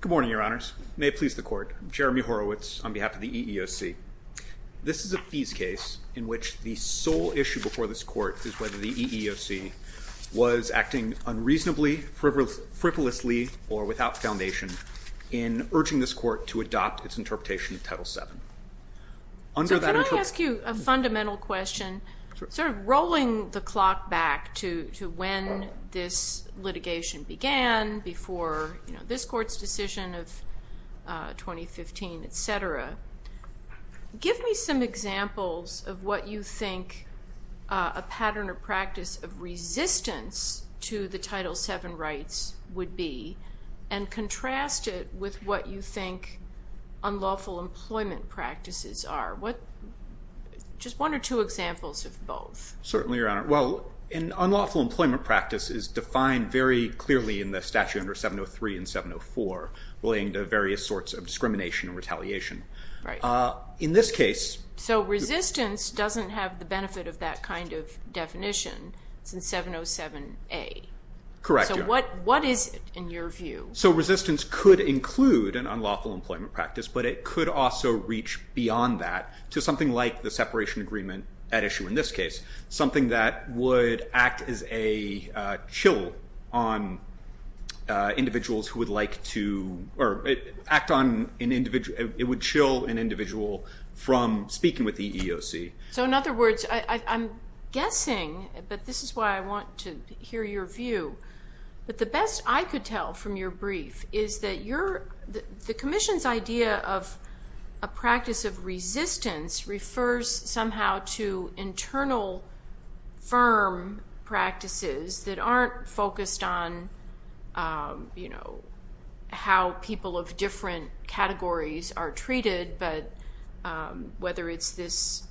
Good morning, Your Honors. May it please the Court. I'm Jeremy Horowitz on behalf of the EEOC. This is a fees case in which the sole issue before this Court is whether the EEOC was acting unreasonably, frivolously, or without foundation in urging this Court to adopt its interpretation of Title VII. So can I ask you a fundamental question? Sort of rolling the clock back to when this litigation began, before this Court's decision of 2015, etc. Give me some examples of what you think a pattern or practice of resistance to the Title VII rights would be and contrast it with what you think unlawful employment practices are. Just one or two examples of both. An unlawful employment practice is defined very clearly in the statute under 703 and 704 relating to various sorts of discrimination and retaliation. So resistance doesn't have the benefit of that kind of definition since 707A. So what is it in your view? So resistance could include an unlawful employment practice, but it could also reach beyond that to something like the separation agreement at issue in this case. Something that would act as a chill on individuals who would like to...it would chill an individual from speaking with the EEOC. So in other words, I'm guessing, but this is why I want to hear your view. But the best I could tell from your brief is that the Commission's idea of a practice of resistance refers somehow to internal firm practices that aren't focused on how people of different categories are treated, but whether it's this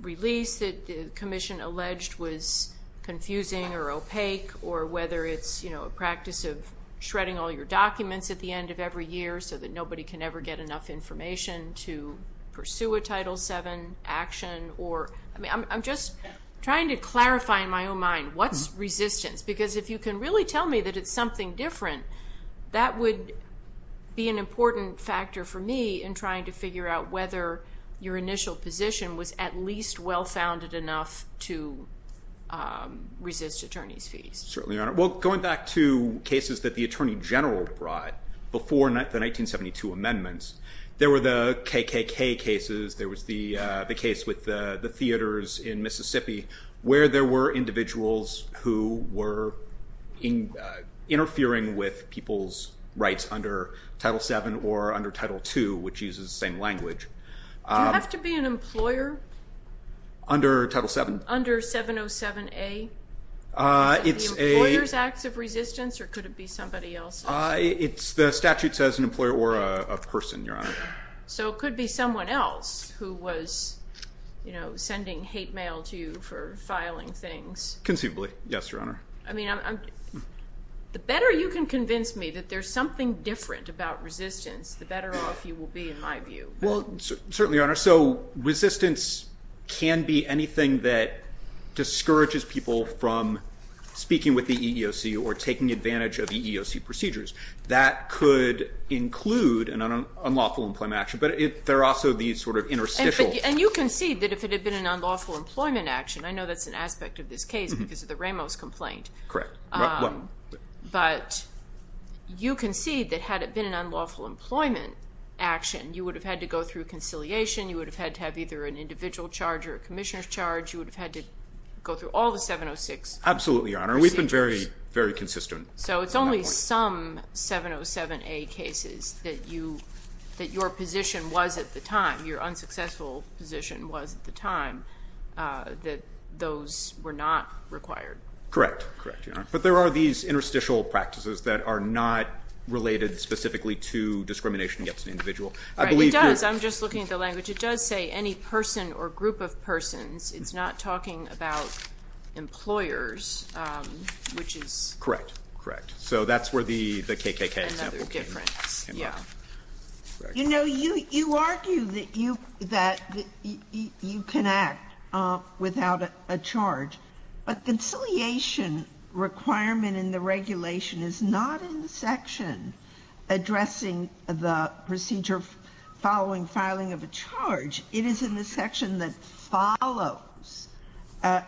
release that the Commission alleged was confusing or opaque, or whether it's a practice of shredding all your documents at the end of every year so that nobody can ever get enough information to pursue a Title VII action. I'm just trying to clarify in my own mind, what's resistance? Because if you can really tell me that it's something different, that would be an important factor for me in trying to figure out whether your initial position was at least well-founded enough to resist attorney's fees. Certainly, Your Honor. Well, going back to cases that the Attorney General brought before the 1972 amendments, there were the KKK cases, there was the case with the theaters in Mississippi, where there were individuals who were interfering with people's rights under Title VII or under Title II, which uses the same language. Do you have to be an employer? Under Title VII? Under 707A? Is it the employer's acts of resistance, or could it be somebody else's? The statute says an employer or a person, Your Honor. So it could be someone else who was sending hate mail to you for filing things. Conceivably, yes, Your Honor. I mean, the better you can convince me that there's something different about resistance, the better off you will be, in my view. Well, certainly, Your Honor. So resistance can be anything that discourages people from speaking with the EEOC or taking advantage of EEOC procedures. That could include an unlawful employment action, but there are also these sort of interstitial... And you concede that if it had been an unlawful employment action, I know that's an aspect of this case because of the Ramos complaint. Correct. But you concede that had it been an unlawful employment action, you would have had to go through conciliation, you would have had to have either an individual charge or a commissioner's charge, you would have had to go through all the 706 procedures. Absolutely, Your Honor. We've been very consistent. So it's only some 707A cases that your position was at the time, your unsuccessful position was at the time, that those were not required. Correct. Correct, Your Honor. But there are these interstitial practices that are not related specifically to discrimination against an individual. Right, it does. I'm just looking at the language. It does say any person or group of persons. It's not talking about employers, which is... Correct. Correct. So that's where the KKK example came from. You know, you argue that you can act without a charge, but conciliation addresses the procedure following filing of a charge. It is in the section that follows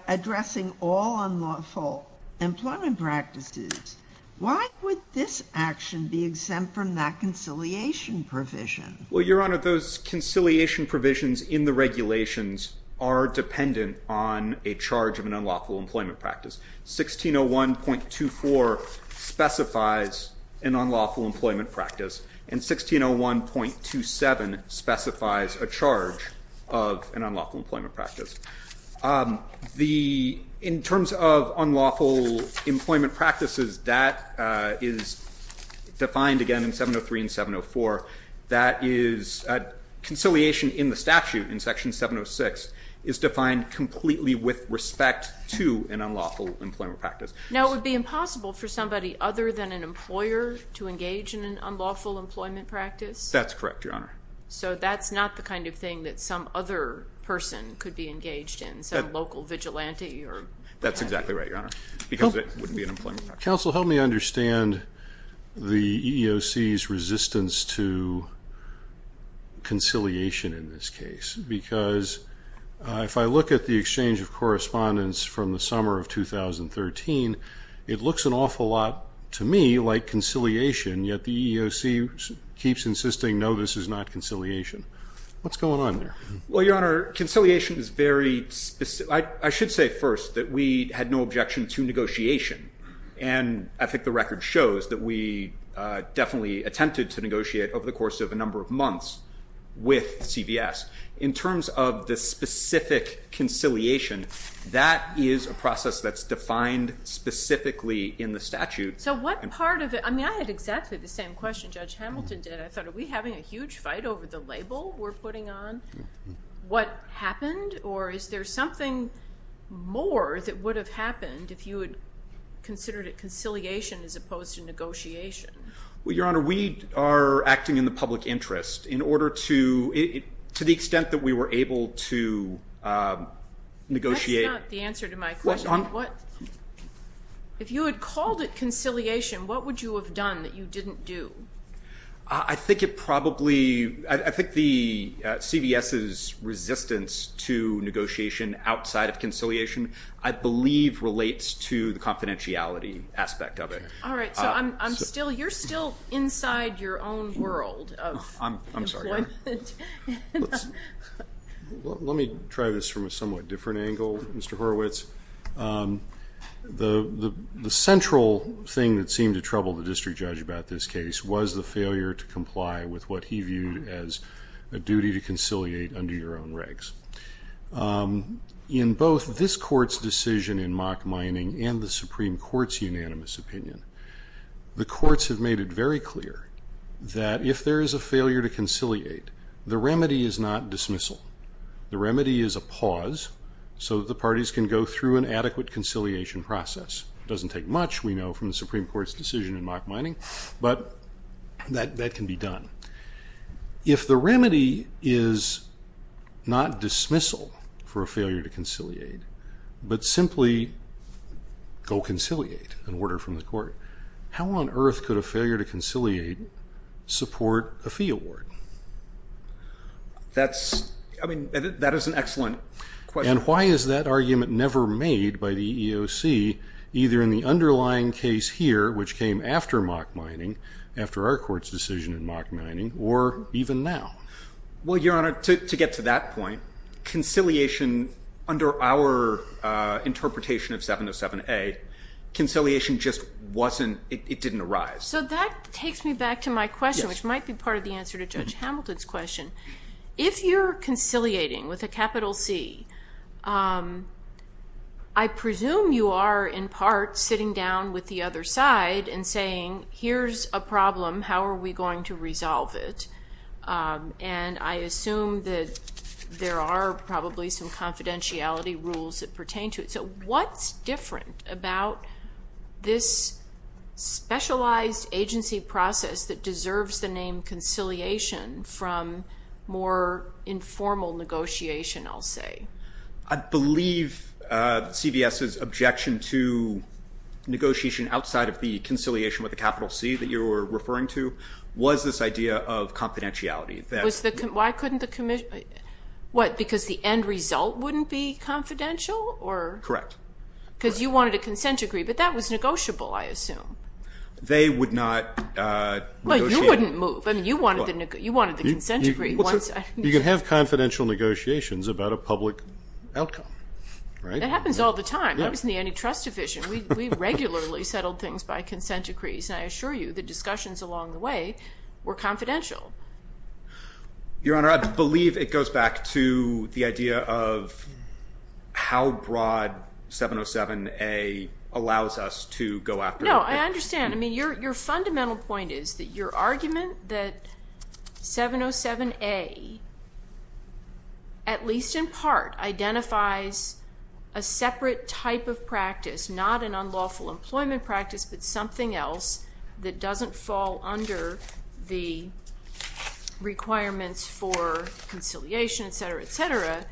addressing all unlawful employment practices. Why would this action be exempt from that conciliation provision? Well, Your Honor, those conciliation provisions in the regulations are dependent on a charge of an unlawful employment practice. 1601.24 specifies an unlawful employment practice, and 1601.27 specifies a charge of an unlawful employment practice. The, in terms of unlawful employment practices, that is defined again in 703 and 704. That is, conciliation in the statute in unlawful employment practice. Now, it would be impossible for somebody other than an employer to engage in an unlawful employment practice? That's correct, Your Honor. So that's not the kind of thing that some other person could be engaged in, some local vigilante or... That's exactly right, Your Honor, because it wouldn't be an employment practice. Counsel, help me understand the EEOC's resistance to conciliation in this case, because if I look at the exchange of correspondence from the summer of 2013, it looks an awful lot to me like conciliation, yet the EEOC keeps insisting, no, this is not conciliation. What's going on there? Well, Your Honor, conciliation is very... I should say first that we had no objection to negotiation, and I think the record shows that we had no objection to negotiation. In terms of the specific conciliation, that is a process that's defined specifically in the statute. So what part of it... I mean, I had exactly the same question Judge Hamilton did. I thought, are we having a huge fight over the label we're putting on? What happened? Or is there something more that would have happened if you had considered it conciliation as opposed to negotiation? Well, Your Honor, we are acting in the public interest in order to... to the extent that we were able to negotiate... That's not the answer to my question. If you had called it conciliation, what would you have done that you didn't do? I think it probably... I think the CVS's resistance to negotiation outside of conciliation, I believe relates to the confidentiality aspect of it. All right, so I'm still... You're still inside your own world of employment. I'm sorry, Your Honor. Let me try this from a somewhat different angle, Mr. Horowitz. The central thing that seemed to trouble the district judge about this case was the failure to comply with what he viewed as a duty to conciliate under your own regs. In both this court's decision in mock mining and the Supreme Court's unanimous opinion, the courts have made it very clear that if there is a failure to conciliate, the remedy is not dismissal. The remedy is a pause so that the parties can go through an adequate conciliation process. It doesn't take much, we know, from the Supreme Court's decision in mock mining, but that can be done. If the remedy is not dismissal for a failure to conciliate, but simply go conciliate, an order from the court, how on earth could a failure to conciliate support a fee award? That's... I mean, that is an excellent question. And why is that argument never made by the Supreme Court after our court's decision in mock mining, or even now? Well, Your Honor, to get to that point, conciliation under our interpretation of 707A, conciliation just wasn't, it didn't arise. So that takes me back to my question, which might be part of the answer to Judge Hamilton's question. If you're conciliating with a capital C, I presume you are in part sitting down with the other side and saying, here's a problem, how are we going to resolve it? And I assume that there are probably some confidentiality rules that pertain to it. So what's different about this specialized agency process that deserves the name conciliation from more informal negotiation, I'll say? I believe CVS's objection to negotiation outside of the conciliation with a capital C that you were referring to was this idea of confidentiality. Why couldn't the commission, what, because the end result wouldn't be confidential? Correct. Because you wanted a consent decree, but that was negotiable, I assume. They would not negotiate. Well, you wouldn't move. I mean, you wanted the consent decree. You can have confidential negotiations about a public outcome. That happens all the time. I was in the antitrust division. We regularly settled things by consent decrees, and I assure you the discussions along the way were confidential. Your Honor, I believe it goes back to the idea of how broad 707A allows us to go after... No, I understand. I mean, your fundamental point is that your argument that 707A, at least in part, identifies a separate type of practice, not an unlawful employment practice, but something else that doesn't fall under the 707A,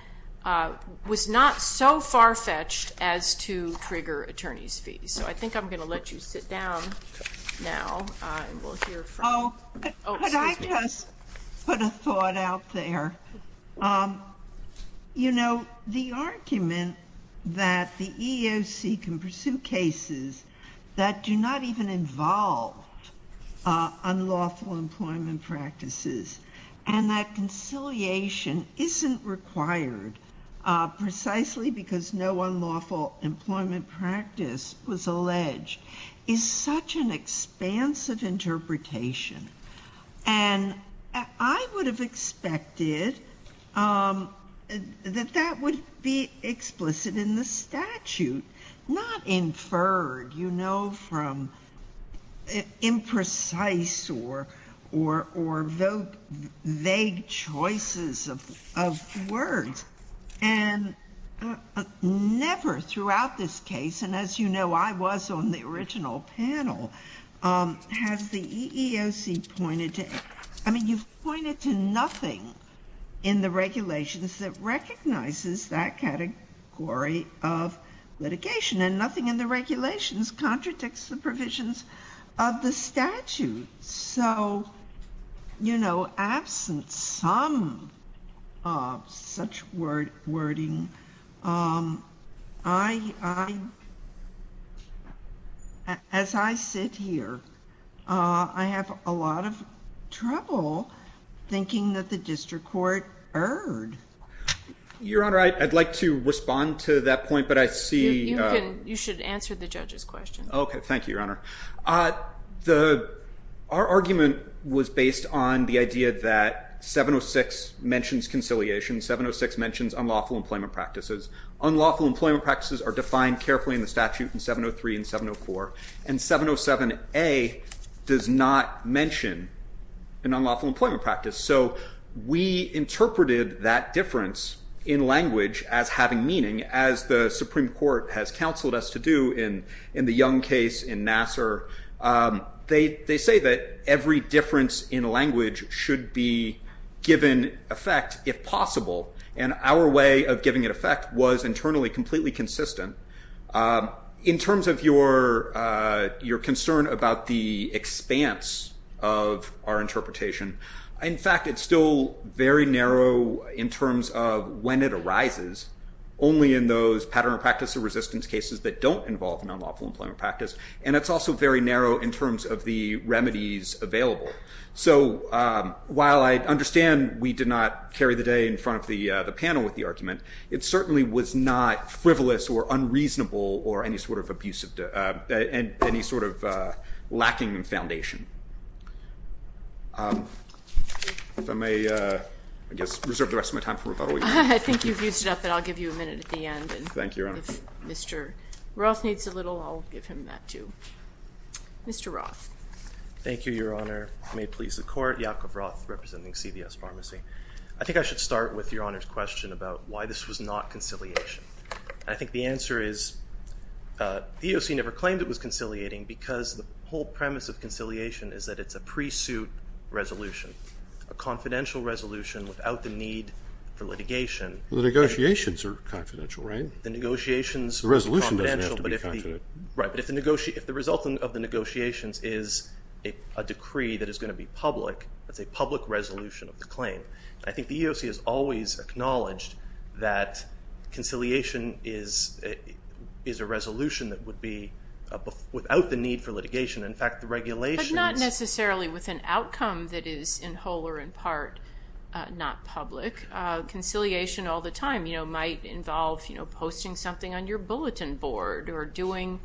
was not so far-fetched as to trigger attorney's fees. So I think I'm going to let you sit down now. Could I just put a thought out there? You know, the argument that the EEOC can pursue cases that do not even involve unlawful employment practices, and that conciliation isn't required precisely because no unlawful employment practice was alleged, is such an expansive interpretation. I would have expected that that would be explicit in the statute, not inferred, you know, from imprecise or vague choices of words. Never throughout this case, and as you know, I was on the original panel, has the EEOC pointed to... I mean, you've pointed to nothing in the regulations that recognizes that category of litigation, and nothing in the regulations contradicts the provisions of the statute. So, you know, absent some such wording, as I sit here, I have a lot of trouble thinking that the district court erred. Your Honor, I'd like to respond to that point, but I see... You should answer the judge's question. Our argument was based on the idea that 706 mentions conciliation. 706 mentions unlawful employment practices. Unlawful employment practices are defined carefully in the statute in 703 and 704, and 707A does not mention an unlawful employment practice. So we interpreted that difference in language as having meaning, as the Supreme Court has counseled us to do in the Young case, in Nassar. They say that every difference in language should be given effect, if it should be consistent. In terms of your concern about the expanse of our interpretation, in fact, it's still very narrow in terms of when it arises, only in those pattern of practice or resistance cases that don't involve an unlawful employment practice. And it's also very narrow in terms of the remedies available. So while I understand we did not carry the day in front of the panel with the argument, it certainly was not frivolous or unreasonable or any sort of abusive, any sort of lacking foundation. If I may, I guess, reserve the rest of my time for rebuttal. I think you've used it up, but I'll give you a minute at the end. Thank you, Your Honor. If Mr. Roth needs a little, I'll give him that too. Mr. Roth. Thank you, Your Honor. May it please the Court. Yakov Roth, representing CVS Pharmacy. I think I should start with Your Honor's question about why this was not conciliation. I think the answer is the EOC never claimed it was conciliating because the whole premise of conciliation is that it's a pre-suit resolution, a confidential resolution without the need for litigation. The negotiations are confidential, right? The negotiations are confidential, but if the result of the negotiations is a decree that is going to be public, it's a public resolution of the claim. I think the EOC has always acknowledged that conciliation is a resolution that would be without the need for litigation. In fact, the regulations But not necessarily with an outcome that is in whole or in part not public. Conciliation all the time might involve posting something on your bulletin board or doing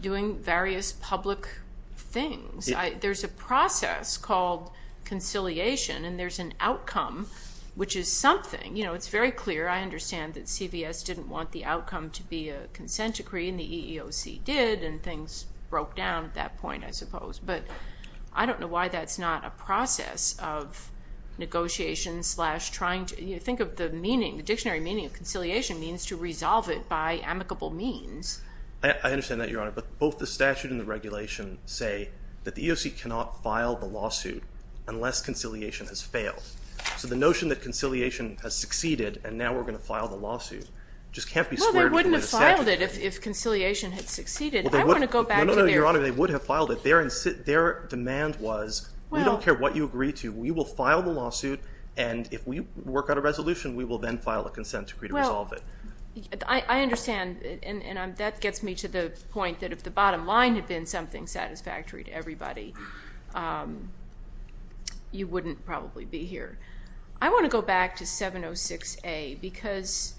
various public things. There's a process called conciliation, and there's an outcome, which is something. It's very clear. I understand that CVS didn't want the outcome to be a consent decree, and the EEOC did, and things broke down at that point, I suppose. But I don't know why that's not a process of negotiation slash trying to think of the meaning, the dictionary meaning of conciliation means to resolve it by amicable means. I understand that, Your Honor, but both the statute and the regulation say that the EEOC cannot file the lawsuit unless conciliation has failed. So the notion that conciliation has succeeded and now we're going to file the lawsuit just can't be squared They wouldn't have filed it if conciliation had succeeded. Their demand was, we don't care what you agree to. We will file the lawsuit, and if we work out a resolution, we will then file a consent decree to resolve it. I understand, and that gets me to the point that if the bottom line had been something satisfactory to everybody, you wouldn't probably be here. I want to go back to 706A because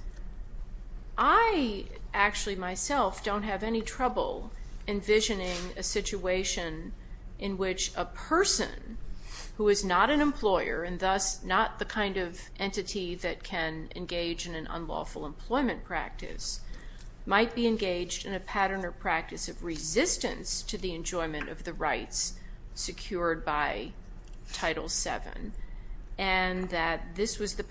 I actually myself don't have any trouble envisioning a situation in which a person who is not an employer and thus not the kind of entity that can engage in an unlawful employment practice might be engaged in a pattern or practice of resistance to the enjoyment of the rights secured by Title VII and that this was the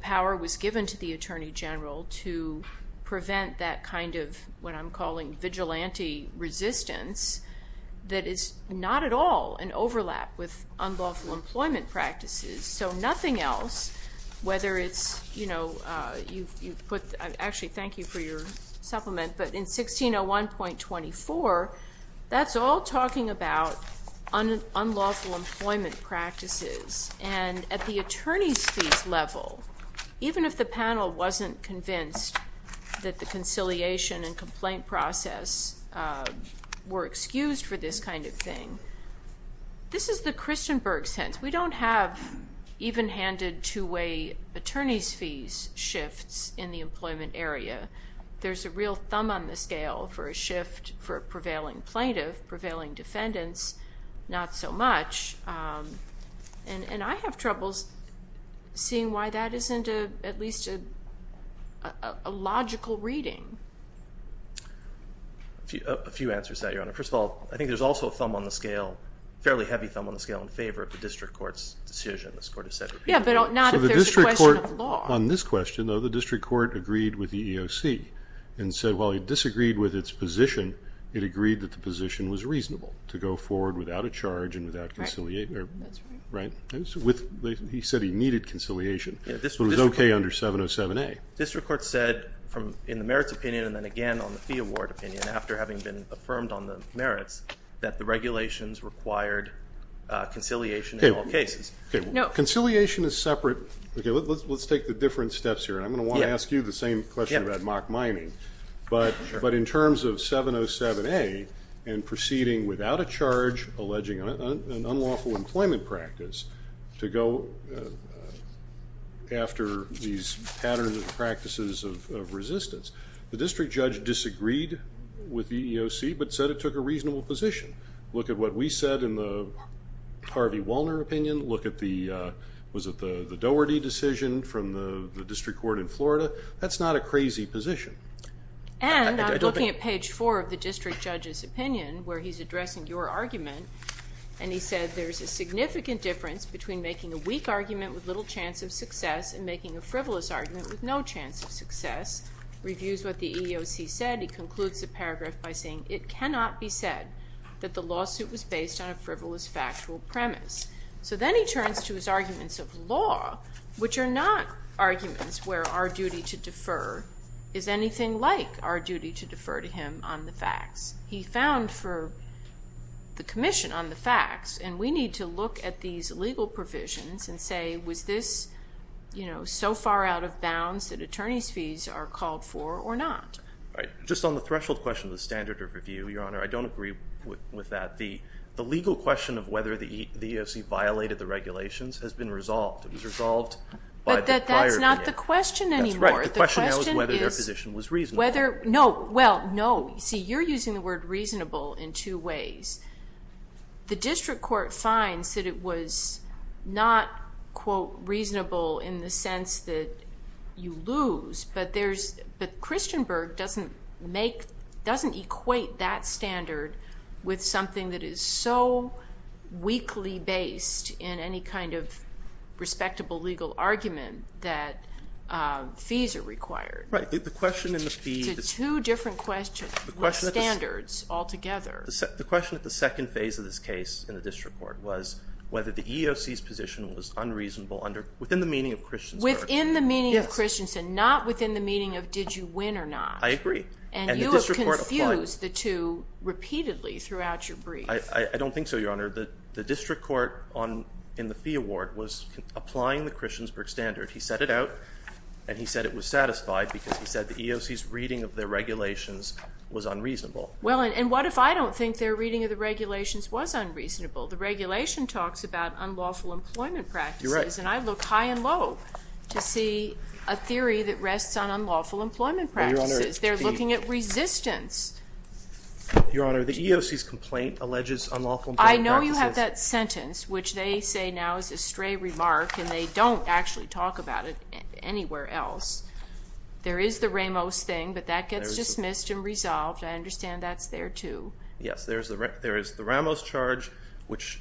power was given to the Attorney General to prevent that kind of what I'm calling vigilante resistance that is not at all an overlap with unlawful employment practices. So nothing else, whether it's, you know, you put, actually thank you for your supplement, but in 1601.24, that's all talking about unlawful employment practices, and at the attorney's fees level, even if the panel wasn't convinced that the conciliation and complaint process were excused for this kind of thing, this is the Christenberg sense. We don't have even-handed two-way attorney's fees shifts in the employment area. There's a real thumb on the scale for a shift for a prevailing plaintiff, prevailing defendants, not so much. And I have troubles seeing why that isn't at least a logical reading. A few answers to that, Your Honor. First of all, I think there's also a thumb on the scale, fairly heavy thumb on the scale in favor of the district court's decision. Yeah, but not if there's a question of law. On this question, though, the district court agreed with the EEOC and said while it disagreed with its position, it agreed that the position was reasonable to go forward without a charge and without conciliation. That's right. He said he needed conciliation, but it was okay under 707A. District court said in the merits opinion and then on the fee award opinion after having been affirmed on the merits that the regulations required conciliation in all cases. Okay, conciliation is separate. Let's take the different steps here. I'm going to want to ask you the same question about mock mining. But in terms of 707A and proceeding without a charge alleging an unlawful employment practice to go after these patterns and practices of resistance, the district judge disagreed with the EEOC but said it took a reasonable position. Look at what we said in the Harvey Walner opinion. Look at the, was it the Doherty decision from the district court in Florida? That's not a crazy position. And I'm looking at page four of the district judge's opinion where he's addressing your difference between making a weak argument with little chance of success and making a frivolous argument with no chance of success. Reviews what the EEOC said. He concludes the paragraph by saying it cannot be said that the lawsuit was based on a frivolous factual premise. So then he turns to his arguments of law, which are not arguments where our duty to defer is anything like our duty to defer to him on the facts. He found for the commission on the facts, and we need to look at these legal provisions and say, was this so far out of bounds that attorney's fees are called for or not? Just on the threshold question of the standard of review, Your Honor, I don't agree with that. The legal question of whether the EEOC violated the regulations has been resolved. It was resolved by the prior opinion. But that's not the question anymore. The question now is whether their position was reasonable. You're using the word reasonable in two ways. The district court finds that it was not, quote, reasonable in the sense that you lose, but Christenberg doesn't equate that standard with something that is so weakly based in any kind of respectable legal argument that fees are required. Right. The question in the fee... To two different standards altogether. The question at the second phase of this case in the district court was whether the EEOC's position was unreasonable within the meaning of Christensen. Within the meaning of Christensen, not within the meaning of did you win or not. I agree. And you have confused the two standards. I think the question at the second phase of the EEOC's review in the fee award was applying the Christiansberg standard. He set it out and he said it was satisfied because he said the EEOC's reading of the regulations was unreasonable. Well, and what if I don't think their reading of the regulations was unreasonable? The regulation talks about unlawful employment practices, and I look high and low to see a theory that rests on unlawful employment practices. They're looking at resistance. Your Honor, the EEOC's complaint alleges unlawful employment practices. I know you have that sentence which they say now is a stray remark, and they don't actually talk about it anywhere else. There is the Ramos thing, but that gets dismissed and resolved. I understand that's there too. Yes, there is the Ramos charge, which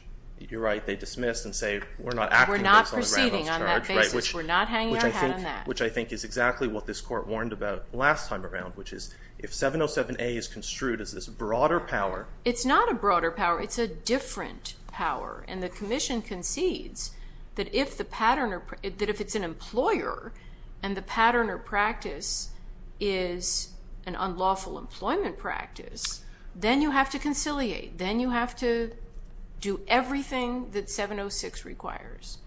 you're right, they dismiss and say we're not acting based on the Ramos charge. We're not proceeding on that basis. We're not hanging our hat on that. Which I think is exactly what this Court warned about last time around, which is if 707A is construed as this broader power. It's not a broader power. It's a different power, and the Commission concedes that if it's an employer and the pattern or practice is an unlawful employment practice, then you have to conciliate. Then you have to do everything that 706 requires.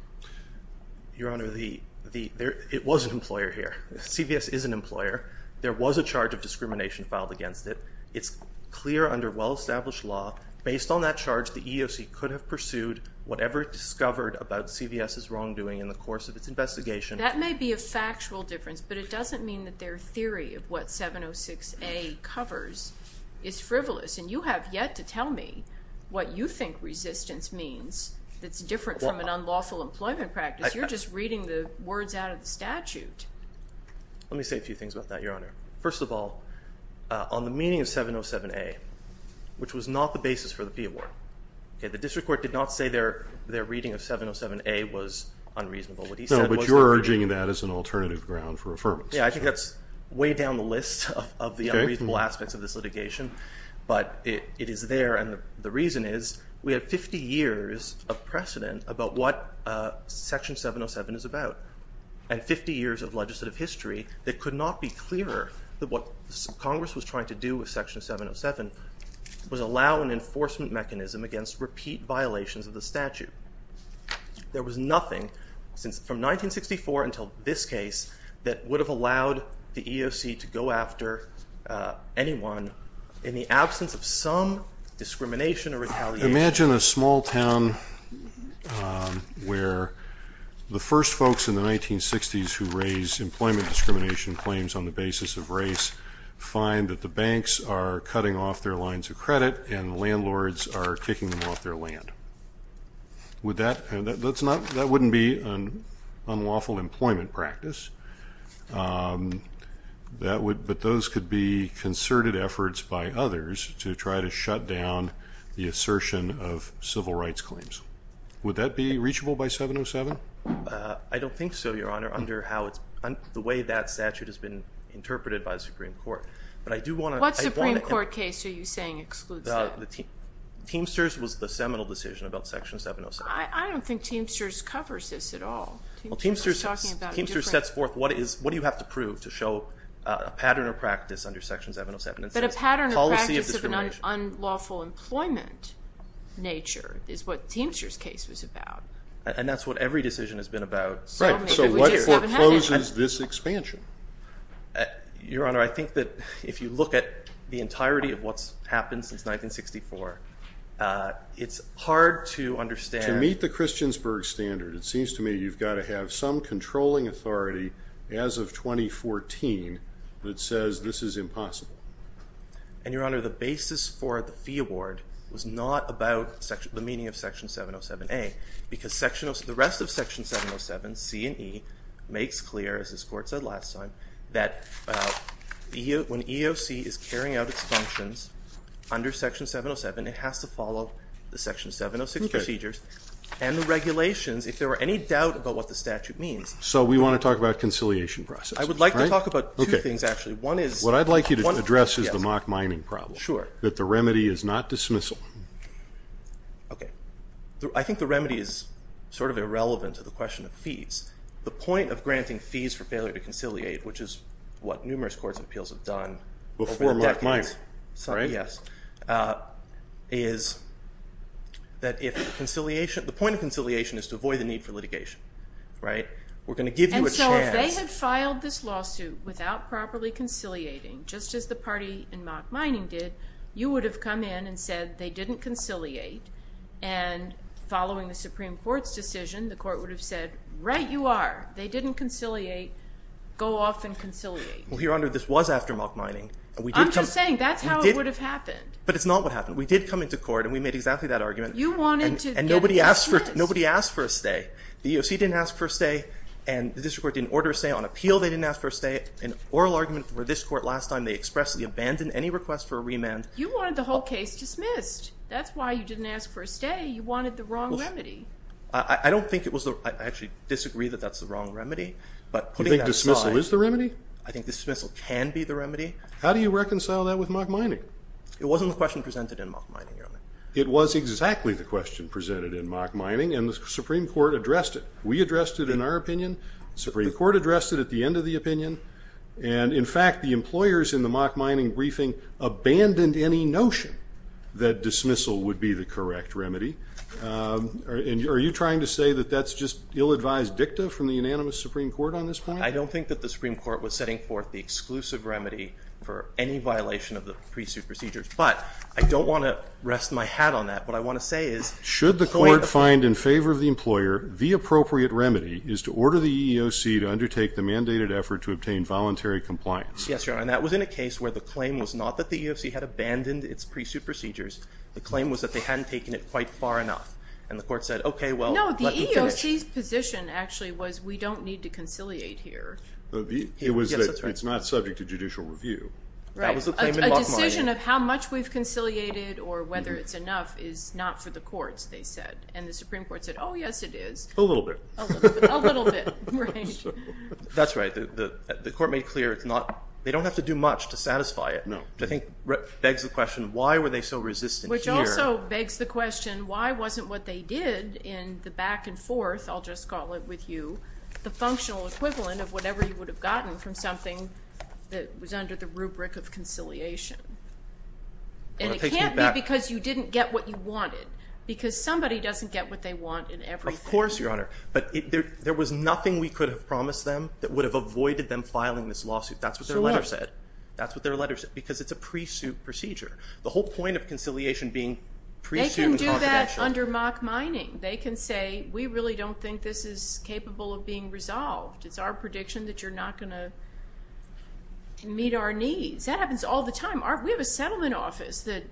Your Honor, it was an employer here. CVS is an employer. There was a charge of discrimination filed against it. It's clear under well-established law, based on that charge, the EEOC could have pursued whatever it discovered about CVS's wrongdoing in the course of its investigation. That may be a factual difference, but it doesn't mean that their theory of what 706A covers is frivolous. And you have yet to tell me what you think resistance means that's different from an unlawful employment practice. You're just reading the words out of the statute. Let me say a few things about that, Your Honor. First of all, on the meaning of 707A, which was not the basis for the Peabody, the District Court did not say their reading of 707A was unreasonable. No, but you're urging that as an alternative ground for affirmance. Yeah, I think that's way down the list of the unreasonable aspects of this litigation, but it is there, and the reason is we have 50 years of precedent about what Section 707 is about, and 50 years of legislative history that could not be clearer that what Congress was trying to do with Section 707 was allow an enforcement mechanism against repeat violations of the statute. There was nothing from 1964 until this case that would have allowed the EEOC to go after anyone in the absence of some discrimination or retaliation. Imagine a small town where the first folks in the 1960s who raise employment discrimination claims on the basis of race find that the banks are cutting off their lines of credit and landlords are kicking them off their land. That wouldn't be an unlawful employment practice, but those could be concerted efforts by others to try to shut down the assertion of civil rights claims. Would that be reachable by 707? I don't think so, Your Honor, under the way that statute has been interpreted by the Supreme Court. What Supreme Court case are you saying excludes that? Teamsters was the seminal decision about Section 707. I don't think Teamsters covers this at all. Teamsters sets forth what you have to prove to show a pattern of practice under Section 707. That a pattern of practice of an unlawful employment nature is what Teamsters case was about. And that's what every decision has been about. So what forecloses this expansion? Your Honor, I think that if you look at the entirety of what's happened since 1964, it's hard to understand. To meet the Christiansburg standard, it seems to me you've got to have some controlling authority as of 2014 that says this is not about the meaning of Section 707A. Because the rest of Section 707, C and E, makes clear, as this Court said last time, that when EOC is carrying out its functions under Section 707, it has to follow the Section 706 procedures and the regulations. If there were any doubt about what the statute means. So we want to talk about conciliation process. I would like to talk about two things actually. What I'd like you to address is the mock mining problem. That the remedy is not dismissal. Okay. I think the remedy is sort of irrelevant to the question of fees. The point of granting fees for failure to conciliate, which is what numerous courts of appeals have done over the decades, is that if conciliation, the point of conciliation is to avoid the need for litigation. Right? We're going to give you a chance. And so if they had filed this lawsuit without properly conciliating, just as the party in mock mining did, you would have come in and said they didn't conciliate. And following the Supreme Court's decision, the Court would have said, right you are. They didn't conciliate. Go off and conciliate. Well, Your Honor, this was after mock mining. I'm just saying that's how it would have happened. But it's not what happened. We did come into that argument. And nobody asked for a stay. The EOC didn't ask for a stay. And the district court didn't order a stay. On appeal, they didn't ask for a stay. An oral argument for this court last time, they expressly abandoned any request for a remand. You wanted the whole case dismissed. That's why you didn't ask for a stay. You wanted the wrong remedy. I don't think it was the, I actually disagree that that's the wrong remedy. But putting that aside. You think dismissal is the remedy? I think dismissal can be the remedy. How do you reconcile that with mock mining? It wasn't the question presented in mock mining, Your Honor. It was exactly the question presented in mock mining. And the Supreme Court addressed it. We addressed it in our opinion. The Supreme Court addressed it at the end of the opinion. And in fact, the employers in the mock mining briefing abandoned any notion that dismissal would be the correct remedy. Are you trying to say that that's just ill-advised dicta from the unanimous Supreme Court on this point? I don't think that the Supreme Court was setting forth the exclusive remedy for any violation of the pre-suit procedures. But I don't want to rest my hat on that. What I want to say is. Should the court find in favor of the employer, the appropriate remedy is to order the EEOC to undertake the mandated effort to obtain voluntary compliance. Yes, Your Honor. And that was in a case where the claim was not that the EEOC had abandoned its pre-suit procedures. The claim was that they hadn't taken it quite far enough. And the court said, OK, well, let them finish. No, the EEOC's position actually was we don't need to conciliate here. It was that it's not subject to judicial review. That was the claim in mock mining. A decision of how much we've conciliated or whether it's enough is not for the courts, they said. And the Supreme Court said, oh, yes, it is. A little bit. A little bit. That's right. The court made clear it's not. They don't have to do much to satisfy it. Which I think begs the question, why were they so resistant here? Which also begs the question, why wasn't what they did in the back and forth, I'll just call it with you, the functional equivalent of whatever you would have gotten from something that was under the rubric of conciliation? And it can't be because you didn't get what you wanted. Because somebody doesn't get what they want in everything. Of course, Your Honor. But there was nothing we could have promised them that would have avoided them filing this lawsuit. That's what their letter said. Because it's a pre-suit procedure. The whole point of conciliation being pre-suit and confidential. They can do that under mock mining. They can say, we really don't think this is capable of being resolved. It's our prediction that you're not going to meet our needs. That happens all the time. We have a settlement office that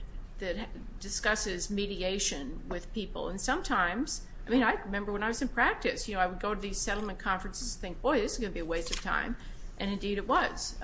discusses mediation with people. And sometimes, I remember when I was in practice, I would go to these settlement conferences and think, boy, this is going to be a waste of time. And indeed it was.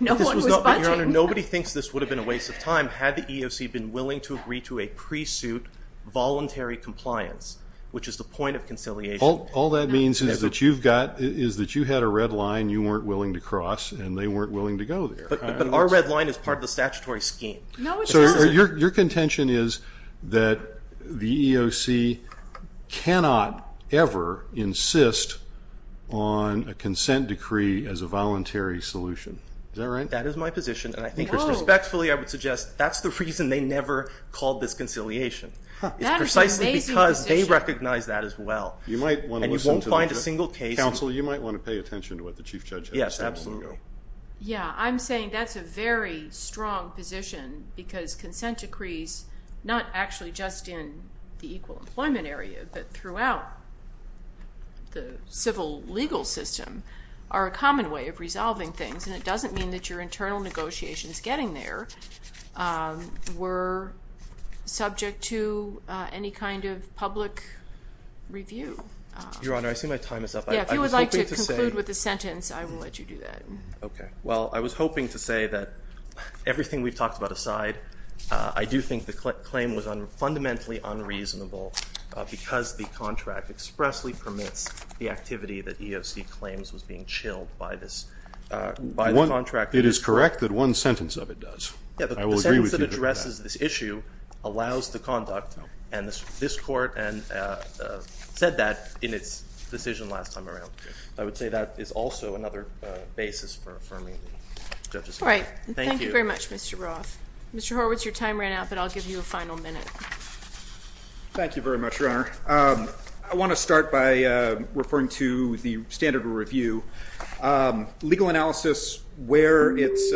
Nobody thinks this would have been a waste of time had the EEOC been willing to agree to a pre-suit voluntary compliance, which is the point of conciliation. All that means is that you had a red line you weren't willing to cross and they weren't willing to cross that red line as part of the statutory scheme. Your contention is that the EEOC cannot ever insist on a consent decree as a voluntary solution. Is that right? That is my position. And I think respectfully I would suggest that's the reason they never called this conciliation. It's precisely because they recognize that as well. And you won't find a single case Counsel, you might want to pay attention to what the Chief Judge has to say. I'm saying that's a very strong position because consent decrees, not actually just in the equal employment area, but throughout the civil legal system, are a common way of resolving things. And it doesn't mean that your internal negotiations getting there were subject to any kind of public review. Your Honor, I see my time is up. If you would like to conclude with a sentence, I will let you do that. Okay. Well, I was hoping to say that everything we've talked about aside, I do think the claim was fundamentally unreasonable because the contract expressly permits the activity that EEOC claims was being chilled by this contract. It is correct that one and this court said that in its decision last time around. I would say that is also another basis for affirming the judge's opinion. Thank you very much, Mr. Roth. Mr. Horwitz, your time ran out, but I'll give you a final minute. Thank you very much, Your Honor. I want to start by referring to the standard of review. Legal analysis where it's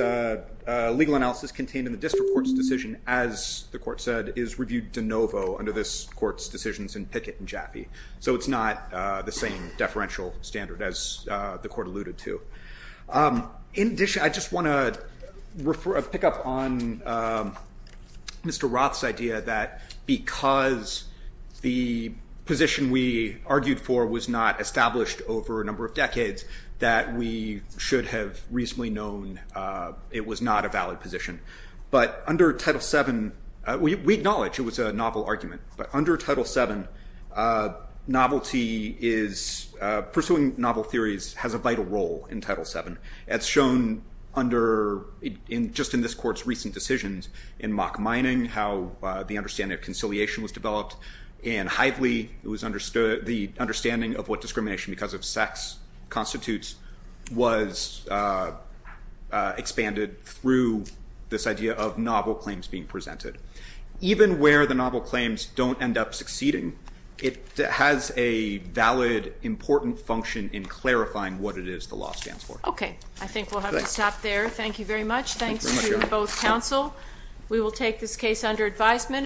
legal analysis contained in the district court's decision, as the court said, is reviewed de novo under this court's decisions in Pickett and Jaffe. So it's not the same deferential standard as the court alluded to. In addition, I just want to pick up on Mr. Roth's idea that because the position we argued for was not established over a number of decades, that we should have reasonably known it was not a valid position. But under Title VII, we acknowledge it was a novel argument, but under Title VII, novelty is pursuing novel theories has a vital role in Title VII. It's shown just in this court's recent decisions in Mock Mining, how the understanding of conciliation was developed in Hively, the understanding of what discrimination because of sex constitutes was expanded through this idea of novel claims being presented. Even where the novel claims don't end up succeeding, it has a valid, important function in clarifying what it is the law stands for. Okay. I think we'll have to stop there. Thank you very much. Thanks to both counsel. We will take this case under advisement.